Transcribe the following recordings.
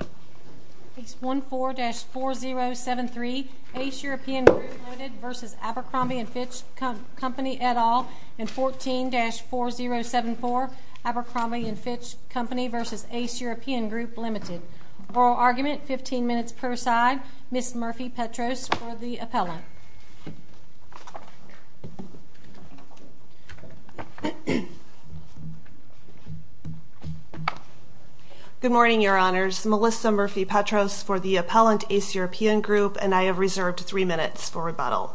and 14-4074 Abercrombie and Fitch Company v. Ace European Group Limited Oral argument, 15 minutes per side. Ms. Murphy-Petros for the appellate. Good morning, Your Honors. Melissa Murphy-Petros for the appellate. Ms. Murphy-Petros for the appellate. And I reserves three minutes for rebuttal.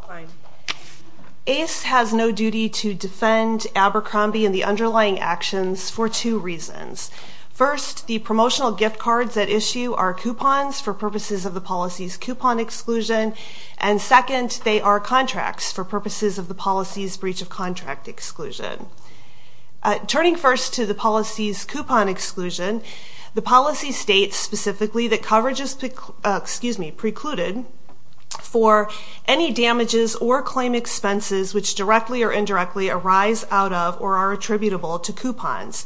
First, the promotional gift cards are coupons for purposes of the policy's coupons and second, they are contracts for purposes of the policy's breach of contract exclusion. And third, we look specifically that coverage is precluded for any damages or claim expenses which directly or indirectly arise out of or are attributable to coupons.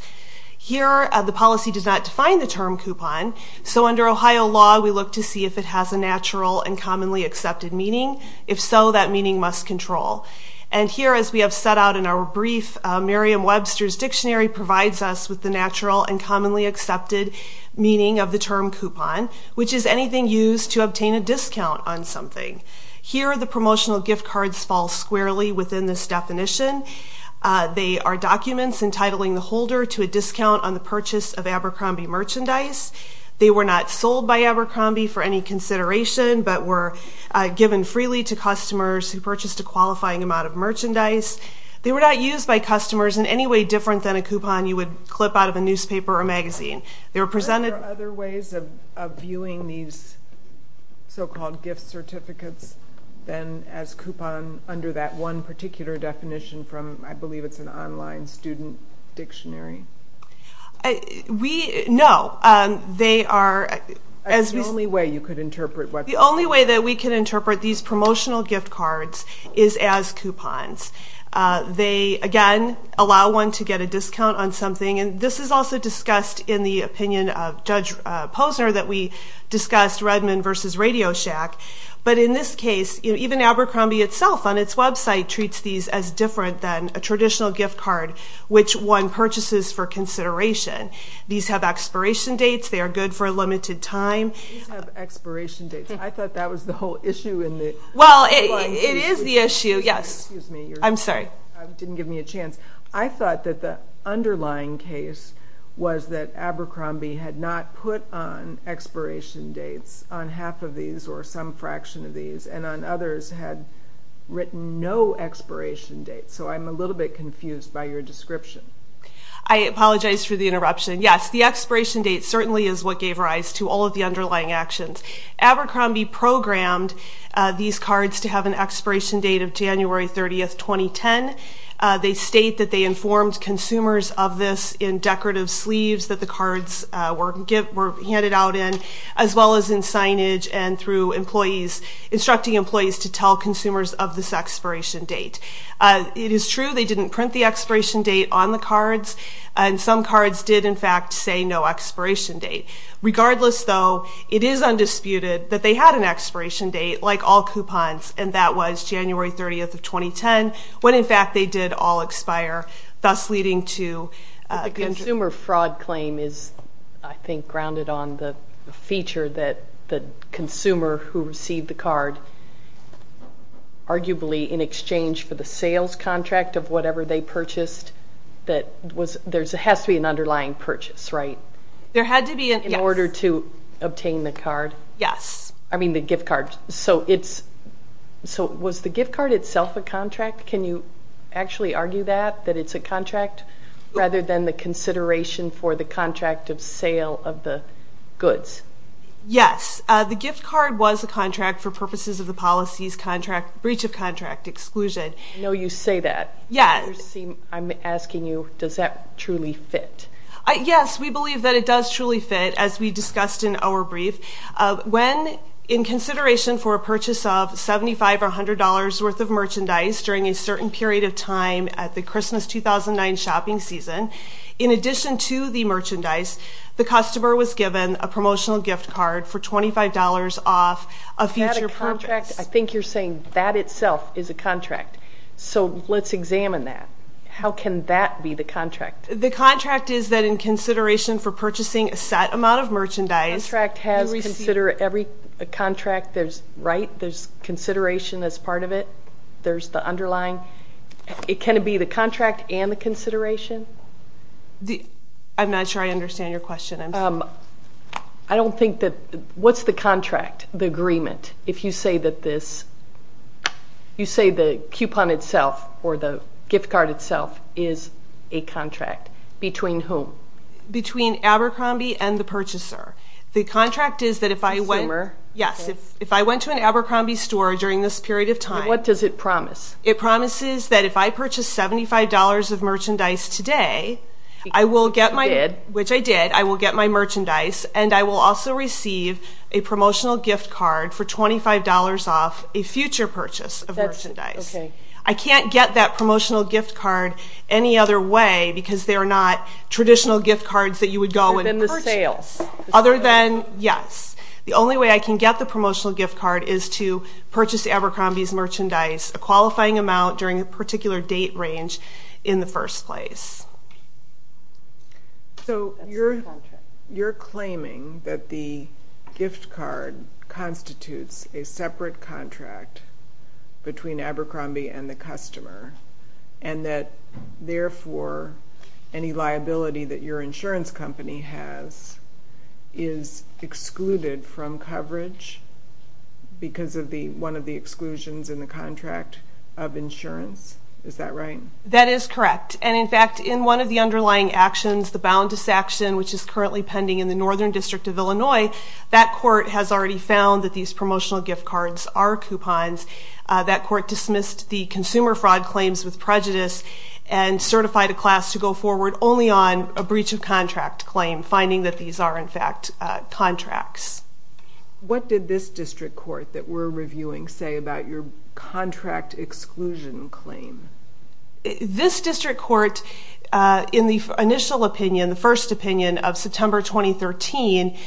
Here, the policy does not define the term coupon, so under Ohio law we look to see if it has a natural and commonly accepted meaning. If so, that meaning must control. And here, as we have set out in our brief, Merriam-Webster's Dictionary provides us with the natural and commonly accepted meaning of the term coupon. Which is anything used to obtain a discount on something. Here, the promotional gift cards fall squarely within this definition. They are documents entitling the holder to a discount on the purchase of Abercrombie merchandise. They were not sold by Abercrombie for any consideration, but were given freely to customers who purchased a qualifying amount of merchandise. They were not used by customers in any way different than a coupon you would clip out of a newspaper or magazine. There are other ways of viewing these so-called gift certificates than as coupon under that one particular definition from I believe it's an online student dictionary? No. The only way that we can interpret these promotional gift cards is as coupons. They again allow one to get a discount on something. And this is also discussed in the opinion of Judge Posner that we discussed Redmond versus Radio Shack. But in this case, even Abercrombie itself on its website treats these as different than a traditional gift card which one purchases for consideration. These have expiration dates. They are good for a limited time. I thought that was the whole issue. I thought that the underlying case was that Abercrombie had not put on expiration dates on half of these or some fraction of these and on others had written no expiration dates. So I'm a little bit confused by your description. I apologize for the interruption. Yes, the expiration date certainly is what gave rise to all of the underlying actions. Abercrombie programmed these cards to have an expiration date of January 30, 2010. They state that they informed consumers of this in decorative sleeves that the cards were handed out in as well as in signage and through employees instructing employees to tell consumers of this expiration date. It is true they didn't print the expiration date on the cards and some cards did in fact say no expiration date. Regardless though, it is undisputed that they had an expiration date like all coupons and that was January 30, 2010 when in fact they did all expire, thus leading to... But the consumer fraud claim is I think grounded on the feature that the consumer who received the card, arguably in exchange for the card's expiration date, had to go through the sales contract of whatever they purchased. There has to be an underlying purchase, right? In order to obtain the gift card. So was the gift card itself a contract? Can you actually argue that, that it's a contract rather than the consideration for the contract of sale of the goods? Yes. The gift card was a contract for purposes of the policy's breach of contract exclusion. I know you say that. I'm asking you, does that truly fit? Yes, we believe that it does truly fit as we discussed in our brief. When in consideration for a purchase of $75 or $100 worth of merchandise during a certain period of time at the Christmas 2009 shopping season, in addition to the merchandise, the customer was given a promotional gift card for $25 off a future purpose. Is that a contract? I think you're saying that itself is a contract, so let's examine that. How can that be the contract? The contract is that in consideration for purchasing a set amount of merchandise. Every contract, there's consideration as part of it, there's the underlying. Can it be the contract and the consideration? I'm not sure I understand your question. What's the contract, the agreement? You say the coupon itself or the gift card itself is a contract. Between whom? Between Abercrombie and the purchaser. What does it promise? It promises that if I purchase $75 of merchandise today, which I did, I will get my merchandise and I will also receive a promotional gift card for $25 off a future purchase of merchandise. I can't get that promotional gift card any other way because they're not traditional gift cards that you would go and purchase. Other than the sales? I can't get that promotional gift card any other way because they're not traditional gift cards that you would go and purchase. You're claiming that the gift card constitutes a separate contract between Abercrombie and the customer and that therefore any liability that your insurance company has is excluded from coverage because of one of the exclusions in the contract. That is correct. And in fact, in one of the underlying actions, the boundless action, which is currently pending in the Northern District of Illinois, that court has already found that these promotional gift cards are coupons. That court dismissed the consumer fraud claims with prejudice and certified a class to go forward only on a breach of contract claim, finding that these are in fact contracts. What did this district court that we're reviewing say about your contract exclusion claim? This district court, in the initial opinion, the first opinion of September 2013,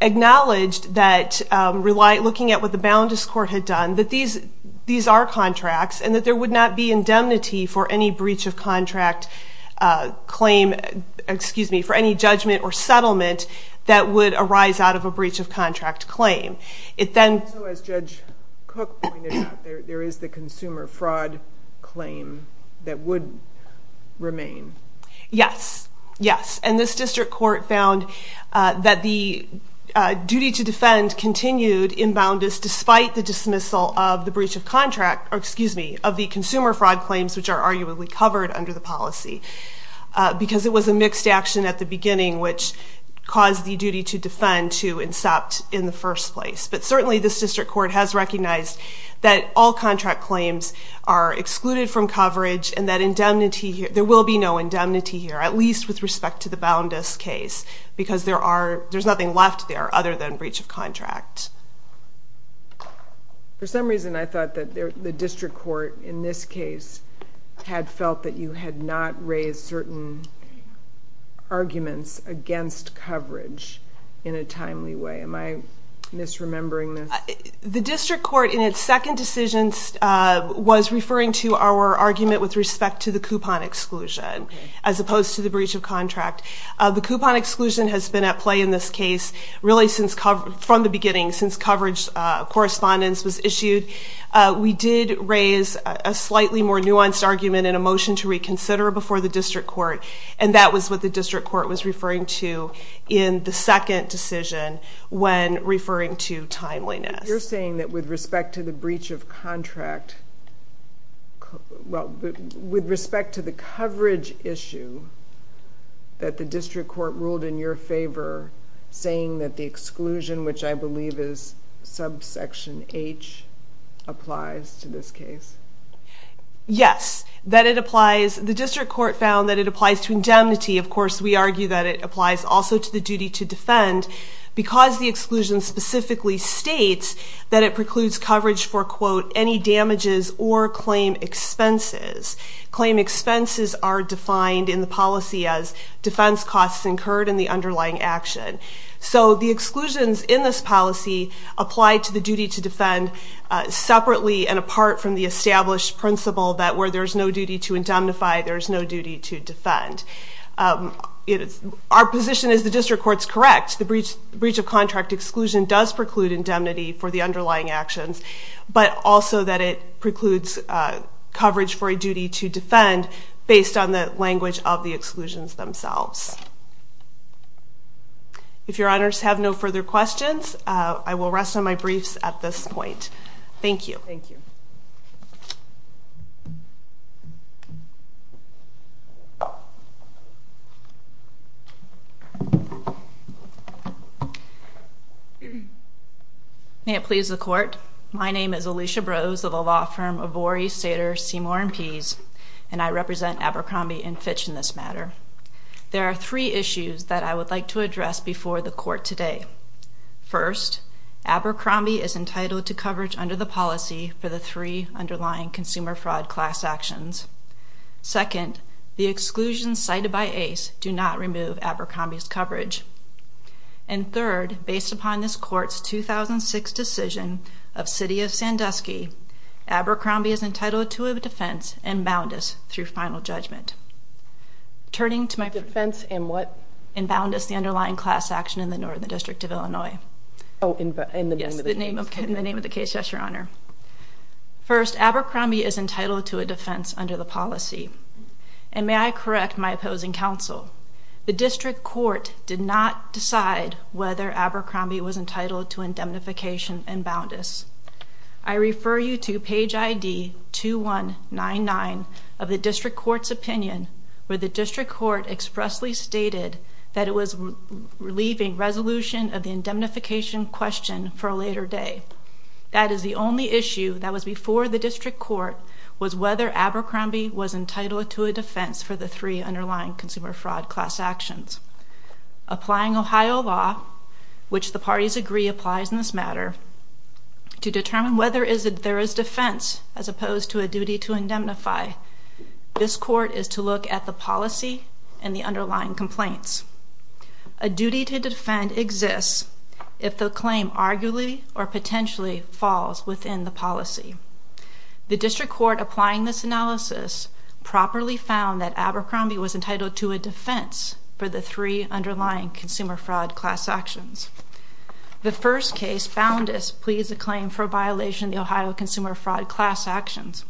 acknowledged that looking at what the boundless court had done, that these are contracts and that there would not be indemnity for any breach of contract claim, for any judgment or settlement that would arise out of a breach of contract claim. So as Judge Cook pointed out, there is the consumer fraud claim that would remain. Yes. And this district court found that the duty to defend continued in boundless despite the dismissal of the consumer fraud claims, which are arguably covered under the policy, because it was a mixed action at the beginning which caused the duty to defend to incept in the first place. But certainly this district court has recognized that all contract claims are excluded from coverage and that there will be no indemnity here, at least with respect to the boundless case, because there's nothing left there other than breach of contract. For some reason I thought that the district court in this case had felt that you had not raised certain arguments against coverage in a timely way. Am I misremembering this? The district court in its second decision was referring to our argument with respect to the coupon exclusion, as opposed to the breach of contract. The coupon exclusion has been at play in this case really from the beginning since coverage correspondence was issued. We did raise a slightly more nuanced argument in a motion to reconsider before the district court, and that was what the district court was referring to in the second decision when referring to timeliness. You're saying that with respect to the breach of contract, with respect to the coverage issue, that the district court ruled in your favor saying that the exclusion, which I believe is subsection H, applies to this case? Yes, that it applies. The district court found that it applies to indemnity. Of course we argue that it applies also to the duty to defend, because the exclusion specifically states that it precludes coverage for any damages or claim expenses. Claim expenses are defined in the policy as defense costs incurred in the underlying action. So the exclusions in this policy apply to the duty to defend separately and apart from the established principle that where there's no duty to indemnify, there's no duty to defend. Our position is the district court's correct. The breach of contract exclusion does preclude indemnity for the underlying actions, but also that it precludes coverage for a duty to defend based on the language of the exclusions themselves. If your honors have no further questions, I will rest on my briefs at this point. Thank you. May it please the court. My name is Alicia Brose of the law firm Avori, Sater, Seymour & Pease, and I represent Abercrombie & Fitch in this matter. There are three issues that I would like to address before the court today. First, Abercrombie is entitled to coverage under the policy for the three underlying consumer fraud class actions. Second, the exclusions cited by Ace do not remove Abercrombie's coverage. And third, based upon this court's 2006 decision of City of Sandusky, Abercrombie is entitled to a defense and bound us through final judgment. Turning to my... Defense and what? And bound us the underlying class action in the Northern District of Illinois. First, Abercrombie is entitled to a defense under the policy. And may I correct my opposing counsel, the district court did not decide whether Abercrombie was entitled to indemnification and bound us. I refer you to page ID 2199 of the district court's opinion, where the district court expressly stated that it was relieving resolution of the indemnification question for a later day. That is the only issue that was before the district court was whether Abercrombie was entitled to a defense for the three underlying consumer fraud class actions. Applying Ohio law, which the parties agree applies in this matter, to determine whether there is defense as opposed to a duty to indemnify, this court is to look at the policy and the underlying complaints. A duty to defend exists if the claim arguably or potentially falls within the policy. The district court applying this analysis properly found that Abercrombie was entitled to a defense for the three underlying consumer fraud class actions. The first case, bound us, pleads a claim for a violation of the Ohio consumer fraud class actions.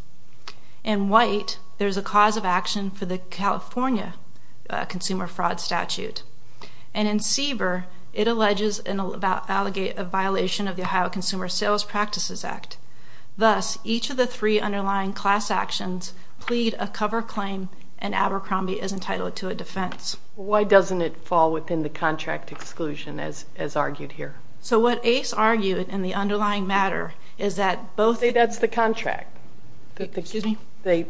In white, there's a cause of action for the California consumer fraud statute. And in CBER, it alleges a violation of the Ohio Consumer Sales Practices Act. Thus, each of the three underlying class actions plead a cover claim and Abercrombie is entitled to a defense. Why doesn't it fall within the contract exclusion as argued here? So what Ace argued in the underlying matter is that both... Say that's the contract. Excuse me? The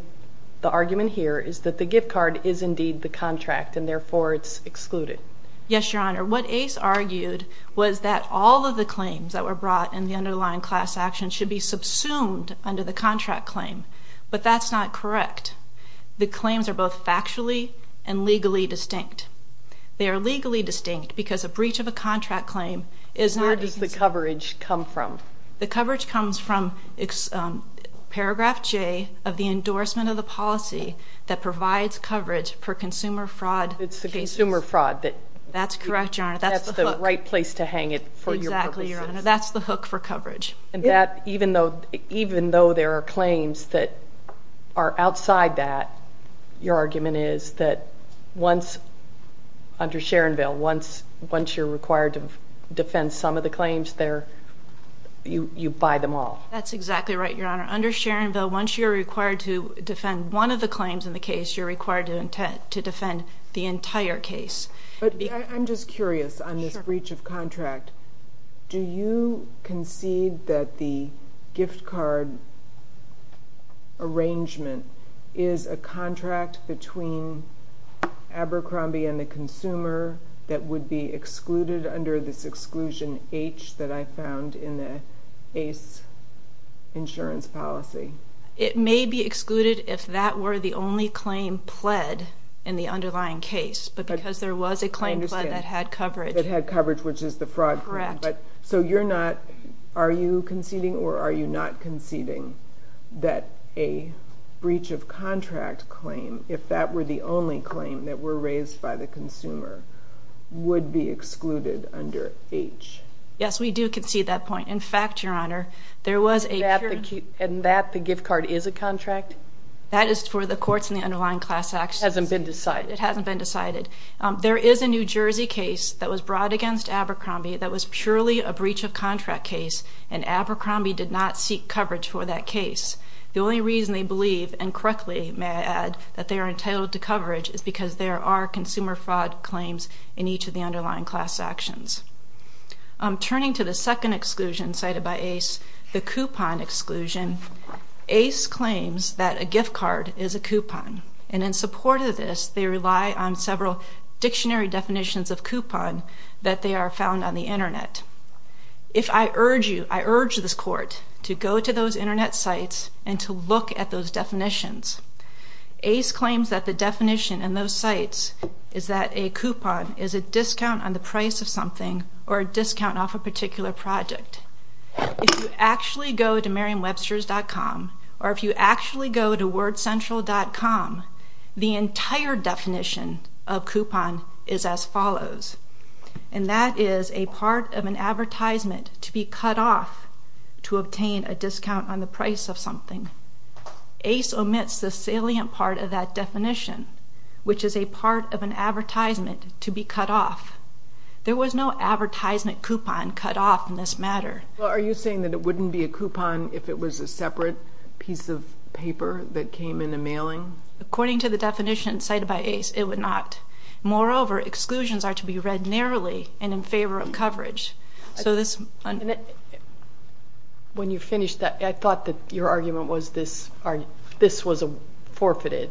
argument here is that the gift card is indeed the contract and therefore it's excluded. Yes, Your Honor. What Ace argued was that all of the claims that were brought in the underlying class action should be subsumed under the contract claim, but that's not correct. The claims are both factually and legally distinct. They are legally distinct because a breach of a contract claim is not... Where does the coverage come from? The coverage comes from paragraph J of the endorsement of the policy that provides coverage for consumer fraud cases. It's the consumer fraud that... That's correct, Your Honor. That's the hook. That's the right place to hang it for your purposes. Exactly, Your Honor. That's the hook for coverage. Even though there are claims that are outside that, your argument is that once... Under Sharonville, once you're required to defend some of the claims there, you buy them all. That's exactly right, Your Honor. Under Sharonville, once you're required to defend one of the claims in the case, you're required to defend the entire case. I'm just curious on this breach of contract. Do you concede that the gift card arrangement is a contract between Abercrombie and the consumer that would be excluded under this exclusion H that I found in the ACE insurance policy? It may be excluded if that were the only claim pled in the underlying case, but because there was a claim pled that had coverage... That had coverage, which is the fraud claim. Are you conceding or are you not conceding that a breach of contract claim, if that were the only claim that were raised by the consumer, would be excluded under H? Yes, we do concede that point. In fact, Your Honor, there was a... And that the gift card is a contract? It hasn't been decided. There is a New Jersey case that was brought against Abercrombie that was purely a breach of contract case, and Abercrombie did not seek coverage for that case. The only reason they believe, and correctly may I add, that they are entitled to coverage is because there are consumer fraud claims in each of the underlying class actions. Turning to the second exclusion cited by ACE, the coupon exclusion, ACE claims that a gift card is a coupon, and in support of this, they rely on several dictionary definitions of coupon that they are found on the Internet. If I urge you, I urge this Court to go to those Internet sites and to look at those definitions. ACE claims that the definition in those sites is that a coupon is a discount on the price of something, or a discount off a particular project. If you actually go to Merriam-Webster's.com, or if you actually go to WordCentral.com, the entire definition of coupon is as follows. And that is a part of an advertisement to be cut off to obtain a discount on the price of something. ACE omits the salient part of that definition, which is a part of an advertisement to be cut off. There was no advertisement coupon cut off in this matter. Are you saying that it wouldn't be a coupon if it was a separate piece of paper that came in the mailing? According to the definition cited by ACE, it would not. Moreover, exclusions are to be read narrowly and in favor of coverage. When you finished that, I thought that your argument was this was forfeited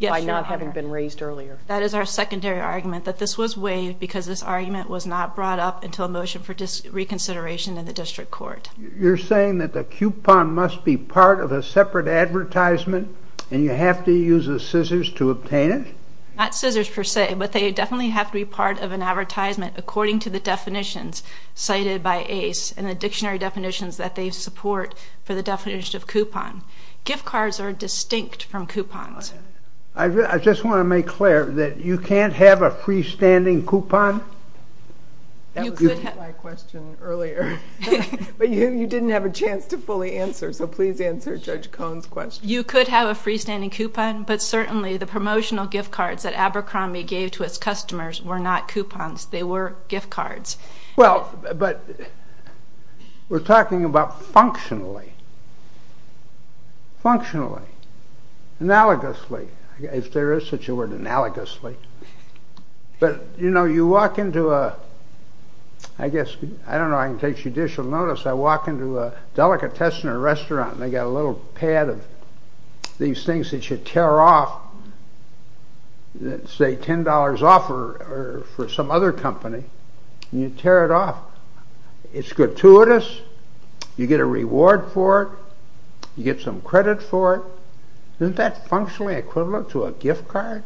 by not having been raised earlier. That is our secondary argument, that this was waived because this argument was not brought up until a motion for reconsideration in the District Court. You're saying that the coupon must be part of a separate advertisement, and you have to use the scissors to obtain it? Not scissors per se, but they definitely have to be part of an advertisement according to the definitions cited by ACE and the dictionary definitions that they support for the definition of coupon. Gift cards are distinct from coupons. I just want to make clear that you can't have a freestanding coupon. That was my question earlier, but you didn't have a chance to fully answer, so please answer Judge Cohn's question. You could have a freestanding coupon, but certainly the promotional gift cards that Abercrombie gave to its customers were not coupons, they were gift cards. We're talking about functionally. Functionally. Analogously. If there is such a word, analogously. I don't know if I can take judicial notice, but I walk into a delicatessen or restaurant and they've got a little pad of these things that you tear off a $10 offer for some other company, and you tear it off. It's gratuitous, you get a reward for it, you get some credit for it. Isn't that functionally equivalent to a gift card?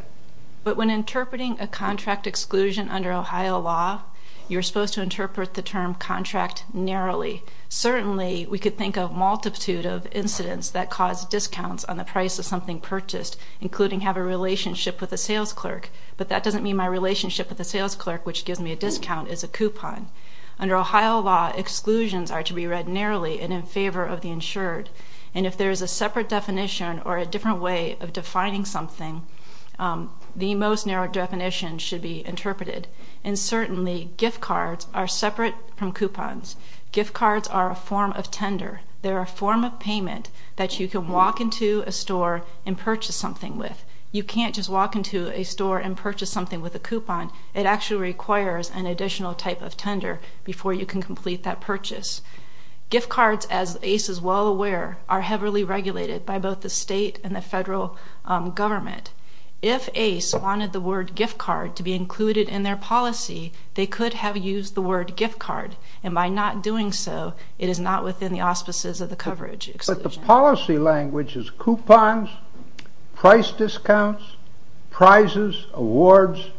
But when interpreting a contract exclusion under Ohio law, you're supposed to interpret the term contract narrowly. Certainly, we could think of a multitude of incidents that cause discounts on the price of something purchased, including have a relationship with a sales clerk. But that doesn't mean my relationship with a sales clerk, which gives me a discount, is a coupon. Under Ohio law, exclusions are to be read narrowly and in favor of the insured. And if there is a separate definition or a different way of defining something, the most narrow definition should be interpreted. And certainly, gift cards are separate from coupons. Gift cards are a form of tender. They're a form of payment that you can walk into a store and purchase something with. You can't just walk into a store and purchase something with a coupon. It actually requires an additional type of tender before you can complete that purchase. Gift cards, as ACE is well aware, are heavily regulated by both the state and the federal government. If ACE wanted the word gift card to be included in their policy, they could have used the word gift card. And by not doing so, it is not within the auspices of the coverage exclusion. But the policy language is coupons, price discounts, prizes, awards,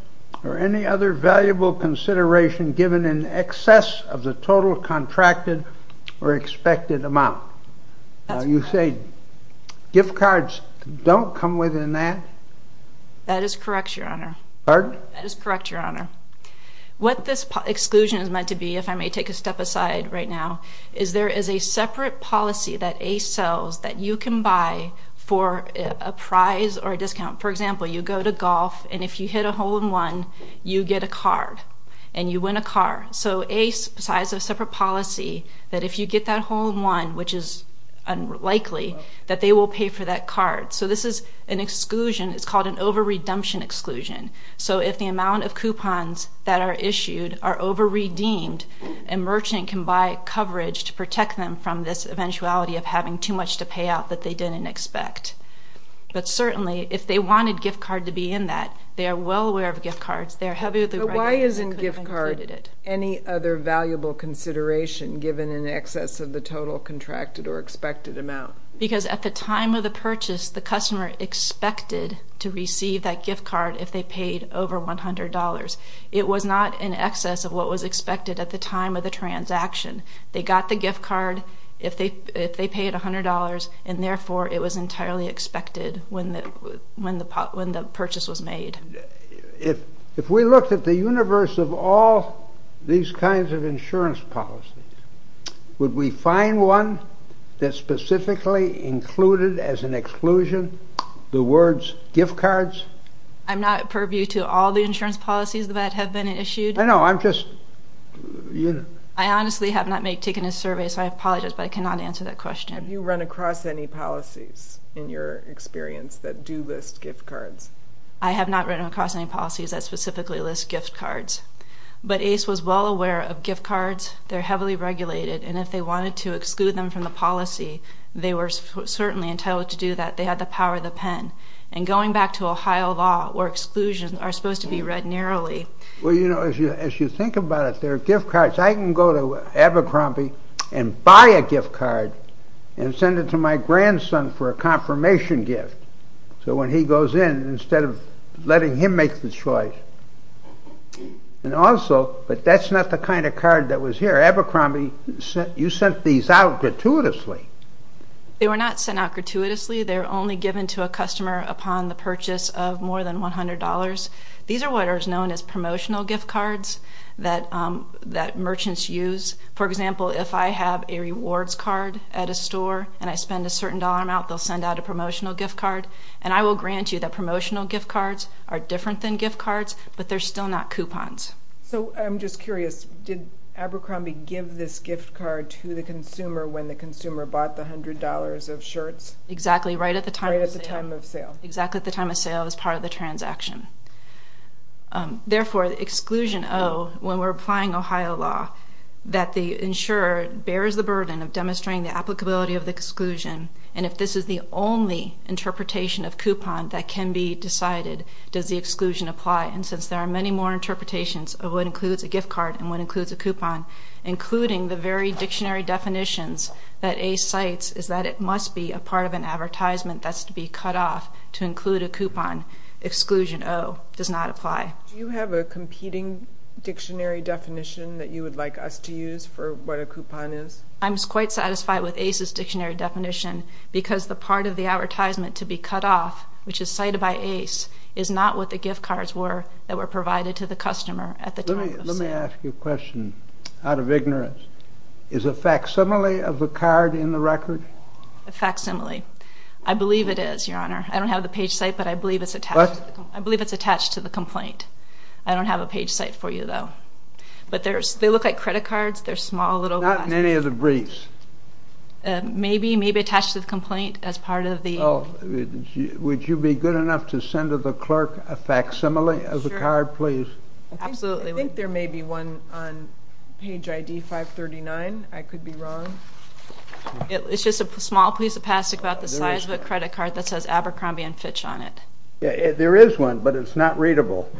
or any other valuable consideration given in excess of the total contracted or expected amount. You say gift cards don't come within that? That is correct, Your Honor. Pardon? That is correct, Your Honor. What this exclusion is meant to be, if I may take a step aside right now, is there is a separate policy that ACE sells that you can buy for a prize or a discount. For example, you go to golf, and if you hit a hole-in-one, you get a card. And you win a card. So ACE decides a separate policy that if you get that hole-in-one, which is unlikely, that they will pay for that card. So this is an exclusion. It's called an over-redemption exclusion. So if the amount of coupons that are issued are over-redeemed, a merchant can buy coverage to protect them from this eventuality of having too much to pay out that they didn't expect. But certainly, if they wanted gift card to be in that, they are well aware of gift cards. But why isn't gift card any other valuable consideration given in excess of the total contracted or expected amount? Because at the time of the purchase, the customer expected to receive that gift card if they paid over $100. It was not in excess of what was expected at the time of the transaction. They got the gift card if they paid $100, and therefore it was entirely expected when the purchase was made. If we looked at the universe of all these kinds of insurance policies, would we find one that specifically included as an exclusion the words gift cards? I'm not purview to all the insurance policies that have been issued. I honestly have not taken a survey, so I apologize, but I cannot answer that question. Have you run across any policies in your experience that do list gift cards? I have not run across any policies that specifically list gift cards. But ACE was well aware of gift cards. They're heavily regulated, and if they wanted to exclude them from the policy, they were certainly entitled to do that. They had the power of the pen. And going back to Ohio law, where exclusions are supposed to be read narrowly... Well, you know, as you think about it, there are gift cards. I can go to Abercrombie and buy a gift card and send it to my grandson for a confirmation gift. So when he goes in, instead of letting him make the choice... But that's not the kind of card that was here. Abercrombie, you sent these out gratuitously. They were not sent out gratuitously. They were only given to a customer upon the purchase of more than $100. These are what are known as promotional gift cards that merchants use. For example, if I have a rewards card at a store and I spend a certain dollar amount, they'll send out a promotional gift card. And I will grant you that promotional gift cards are different than gift cards, but they're still not coupons. So I'm just curious, did Abercrombie give this gift card to the consumer when the consumer bought the $100 of shirts? Exactly, right at the time of sale. Exactly at the time of sale as part of the transaction. Therefore, exclusion O, when we're applying Ohio law, that the insurer bears the burden of demonstrating the applicability of the exclusion, and if this is the only interpretation of coupon that can be decided, does the exclusion apply? And since there are many more interpretations of what includes a gift card and what includes a coupon, including the very dictionary definitions that ACE cites, is that it must be a part of an advertisement that's to be cut off to include a coupon. Exclusion O does not apply. Do you have a competing dictionary definition that you would like us to use for what a coupon is? I'm quite satisfied with ACE's dictionary definition because the part of the advertisement to be cut off, which is cited by ACE, is not what the gift cards were that were provided to the customer at the time of sale. Let me ask you a question out of ignorance. Is a facsimile of the card in the record? A facsimile. I believe it is, Your Honor. I don't have the page site, but I believe it's attached to the complaint. I don't have a page site for you, though. But they look like credit cards. Not in any of the briefs. Would you be good enough to send to the clerk a facsimile of the card, please? I think there may be one on page ID 539. I could be wrong. It's just a small piece of plastic about the size of a credit card that says Abercrombie & Fitch on it. There is one, but it's not readable.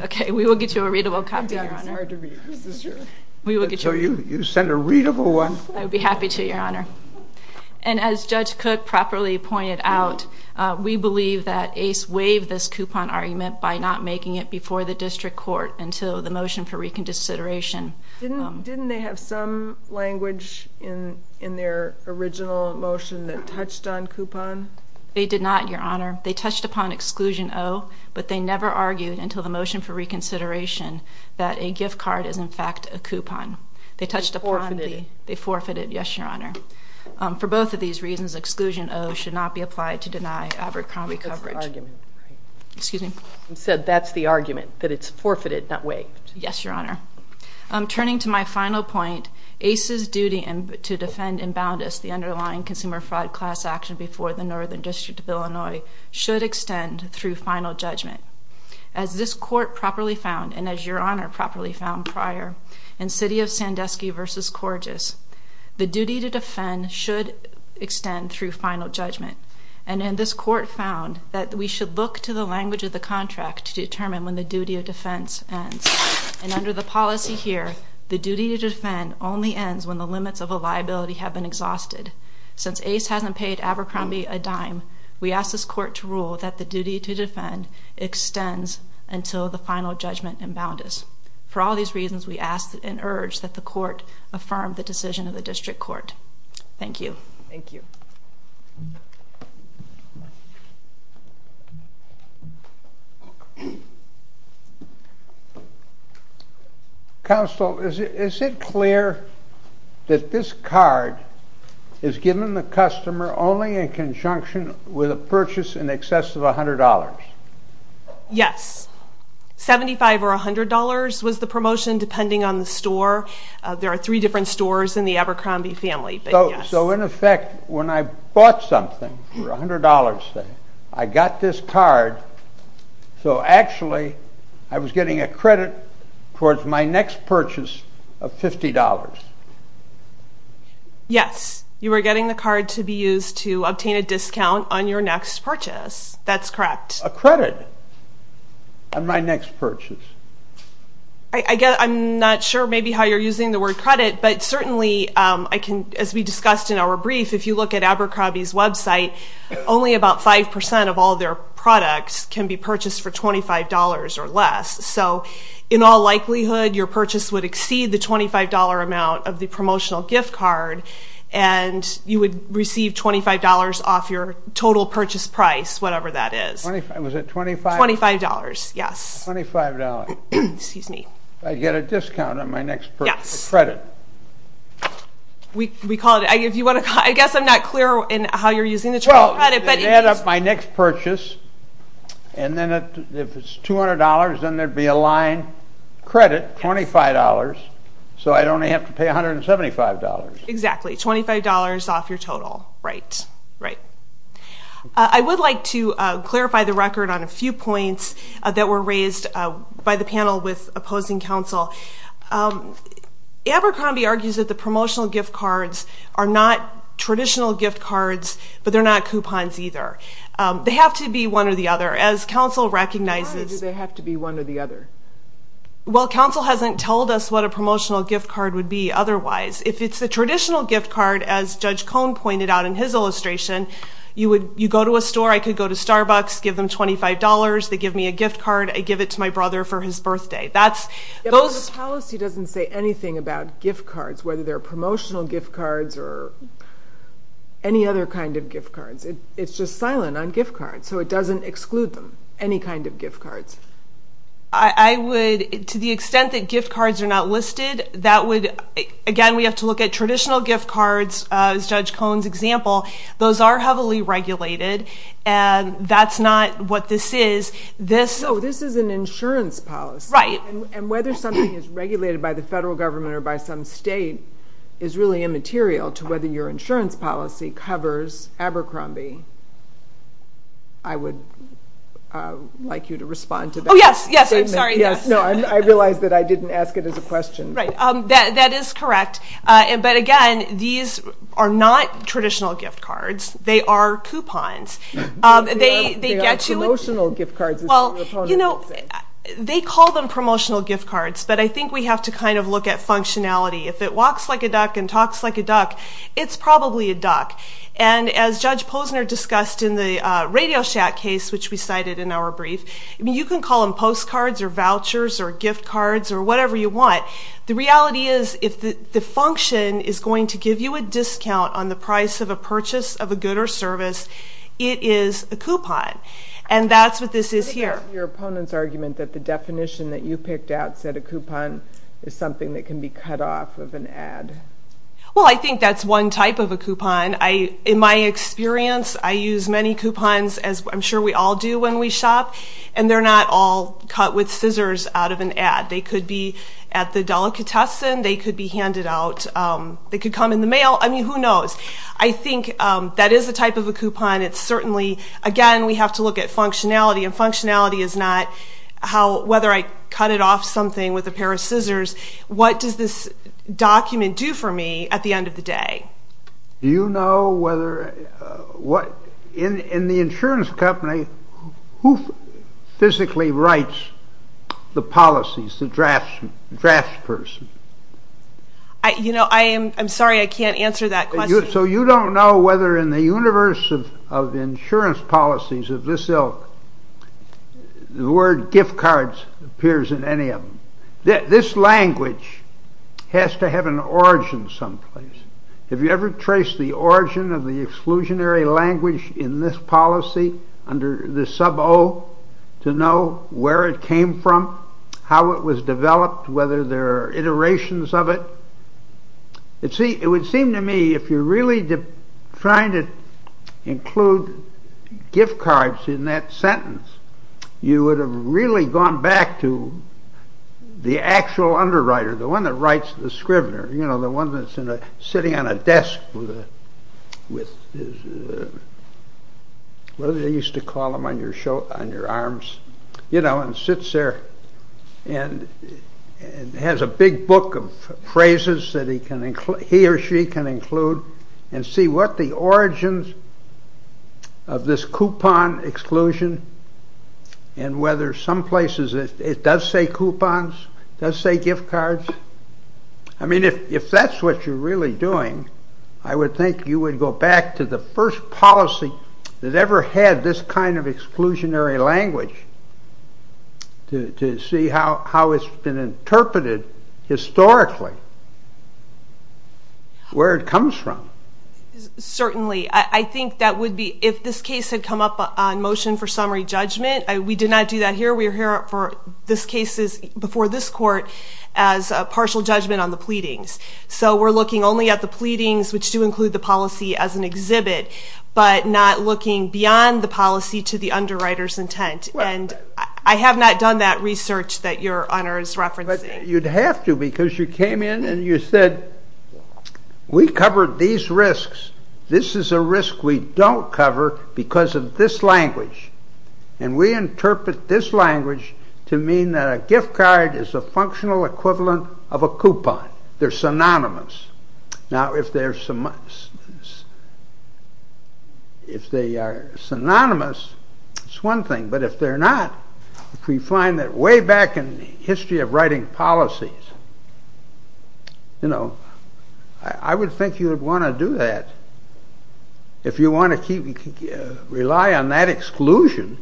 Okay, we will get you a readable copy, Your Honor. So you send a readable one? I would be happy to, Your Honor. And as Judge Cook properly pointed out, we believe that ACE waived this coupon argument by not making it before the district court until the motion for reconsideration. Didn't they have some language in their original motion that touched on coupon? They did not, Your Honor. They touched upon Exclusion O, but they never argued until the motion for reconsideration that a gift card is in fact a coupon. They forfeited it? They forfeited it, yes, Your Honor. For both of these reasons, Exclusion O should not be applied to deny Abercrombie coverage. That's the argument, right? You said that's the argument, that it's forfeited, not waived. Yes, Your Honor. Turning to my final point, ACE's duty to defend and bound us, the underlying consumer fraud class action before the Northern District of Illinois, should extend through final judgment. As this court properly found, and as Your Honor properly found prior, in City of Sandusky v. Corgis, the duty to defend should extend through final judgment. And this court found that we should look to the language of the contract to determine when the duty of defense ends. And under the policy here, the duty to defend only ends when the limits of a liability have been exhausted. Since ACE hasn't paid Abercrombie a dime, we ask this court to rule that the duty to defend extends until the final judgment and bound us. For all these reasons, we ask and urge that the court affirm the decision of the District Court. Thank you. Counsel, is it clear that this card is given the customer only in conjunction with a purchase in excess of $100? Yes. $75 or $100 was the promotion, depending on the store. There are three different stores in the Abercrombie family. So in effect, when I bought something for $100, I got this card, so actually I was getting a credit towards my next purchase of $50. Yes, you were getting the card to be used to obtain a discount on your next purchase. That's correct. A credit on my next purchase. I'm not sure how you're using the word credit, but certainly, as we discussed in our brief, if you look at Abercrombie's website, only about 5% of all their products can be purchased for $25 or less. So in all likelihood, your purchase would exceed the $25 amount of the promotional gift card, and you would receive $25 off your total purchase price, whatever that is. Was it $25? $25, yes. I get a discount on my next purchase for credit. I guess I'm not clear in how you're using the term credit. I add up my next purchase, and if it's $200, then there'd be a line credit, $25, so I'd only have to pay $175. Exactly, $25 off your total. I would like to clarify the record on a few points that were raised by the panel with opposing counsel. Abercrombie argues that the gift cards don't have to be one or the other. Why do they have to be one or the other? Well, counsel hasn't told us what a promotional gift card would be otherwise. If it's a traditional gift card, as Judge Cohn pointed out in his illustration, you go to a store, I could go to Starbucks, give them $25, they give me a gift card, I give it to my brother for his birthday. The policy doesn't say anything about gift cards, whether they're promotional gift cards or any other kind of gift cards. It's just silent on gift cards, so it doesn't exclude them, any kind of gift cards. To the extent that gift cards are not listed, again, we have to look at traditional gift cards, as Judge Cohn's example. Those are heavily regulated, and that's not what this is. This is an insurance policy, and whether something is regulated by the federal government or by some state is really immaterial to whether your insurance policy covers Abercrombie. I would like you to respond to that. I realize that I didn't ask it as a question. That is correct, but again, these are not traditional gift cards. They are coupons. They call them promotional gift cards, but I think we have to look at functionality. If it walks like a duck and talks like a duck, it's probably a duck. As Judge Posner discussed in the RadioShack case, which we cited in our brief, you can call them postcards or vouchers or gift cards or whatever you want. The reality is, if the function is going to give you a discount on the price of a purchase of a good or service, it is a coupon, and that's what this is here. I think that's your opponent's argument, that the definition that you picked out said a coupon is something that can be cut off of an ad. Well, I think that's one type of a coupon. In my experience, I use many coupons, as I'm sure we all do when we shop, and they're not all cut with scissors out of an ad. They could be at the delicatessen. They could be handed out. They could come in the mail. I mean, who knows? I think that is a type of a coupon. Again, we have to look at functionality, and functionality is not whether I cut it off something with a pair of scissors. What does this document do for me at the end of the day? Do you know whether, in the insurance company, who physically writes the policies, the draftsperson? You know, I'm sorry, I can't answer that question. So you don't know whether in the universe of insurance policies of this ilk, the word gift cards appears in any of them. This language has to have an origin someplace. Have you ever traced the origin of the exclusionary language in this policy, under the sub O, to know where it came from, how it was developed, whether there are iterations of it? It would seem to me, if you're really trying to include gift cards in that sentence, you would have really gone back to the actual underwriter, the one that writes the scrivener, you know, the one that's sitting on a desk with what they used to call them on your arms, you know, and sits there and has a big book of phrases that he or she can include and see what the origins of this coupon exclusion and whether some places it does say coupons, it does say gift cards. I mean, if that's what you're really doing, I would think you would go back to the first policy that ever had this kind of exclusionary language to see how it's been interpreted historically, where it comes from. Certainly. I think that would be, if this case had come up on motion for summary judgment, we did not do that here, we're here for this case before this court as a partial judgment on the pleadings. So we're looking only at the pleadings, which do include the policy as an exhibit, but not looking beyond the policy to the underwriter's intent. I have not done that research that your honor is referencing. You'd have to, because you came in and you said, we covered these risks, this is a risk we don't cover because of this language. And we interpret this language to mean that a gift card is a functional equivalent of a coupon. They're synonymous. Now, if they are synonymous, it's one thing, but if they're not, if we find that way back in the history of writing policies, I would think you would want to do that. If you want to rely on that exclusion.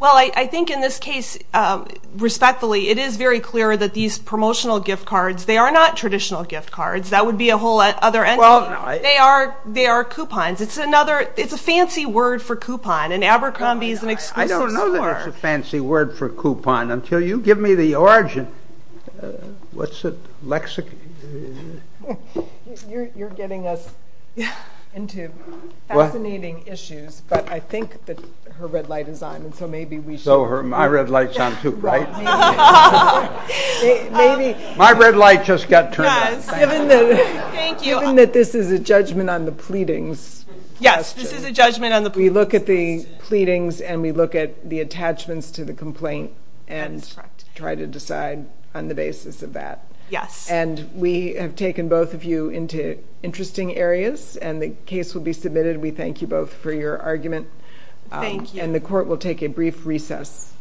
Well, I think in this case, respectfully, it is very clear that these promotional gift cards, they are not traditional gift cards, that would be a whole other entity. They are coupons. It's a fancy word for coupon, and Abercrombie is an exclusive score. I don't know that it's a fancy word for coupon until you give me the origin. What's it? You're getting us into fascinating issues, but I think that her red light is on. So my red light's on too, right? My red light just got turned off. Given that this is a judgment on the pleadings, we look at the pleadings and we look at the attachments to the complaint and try to decide on the basis of that. And we have taken both of you into interesting areas, and the case will be submitted. We thank you both for your argument. And the court will take a brief recess.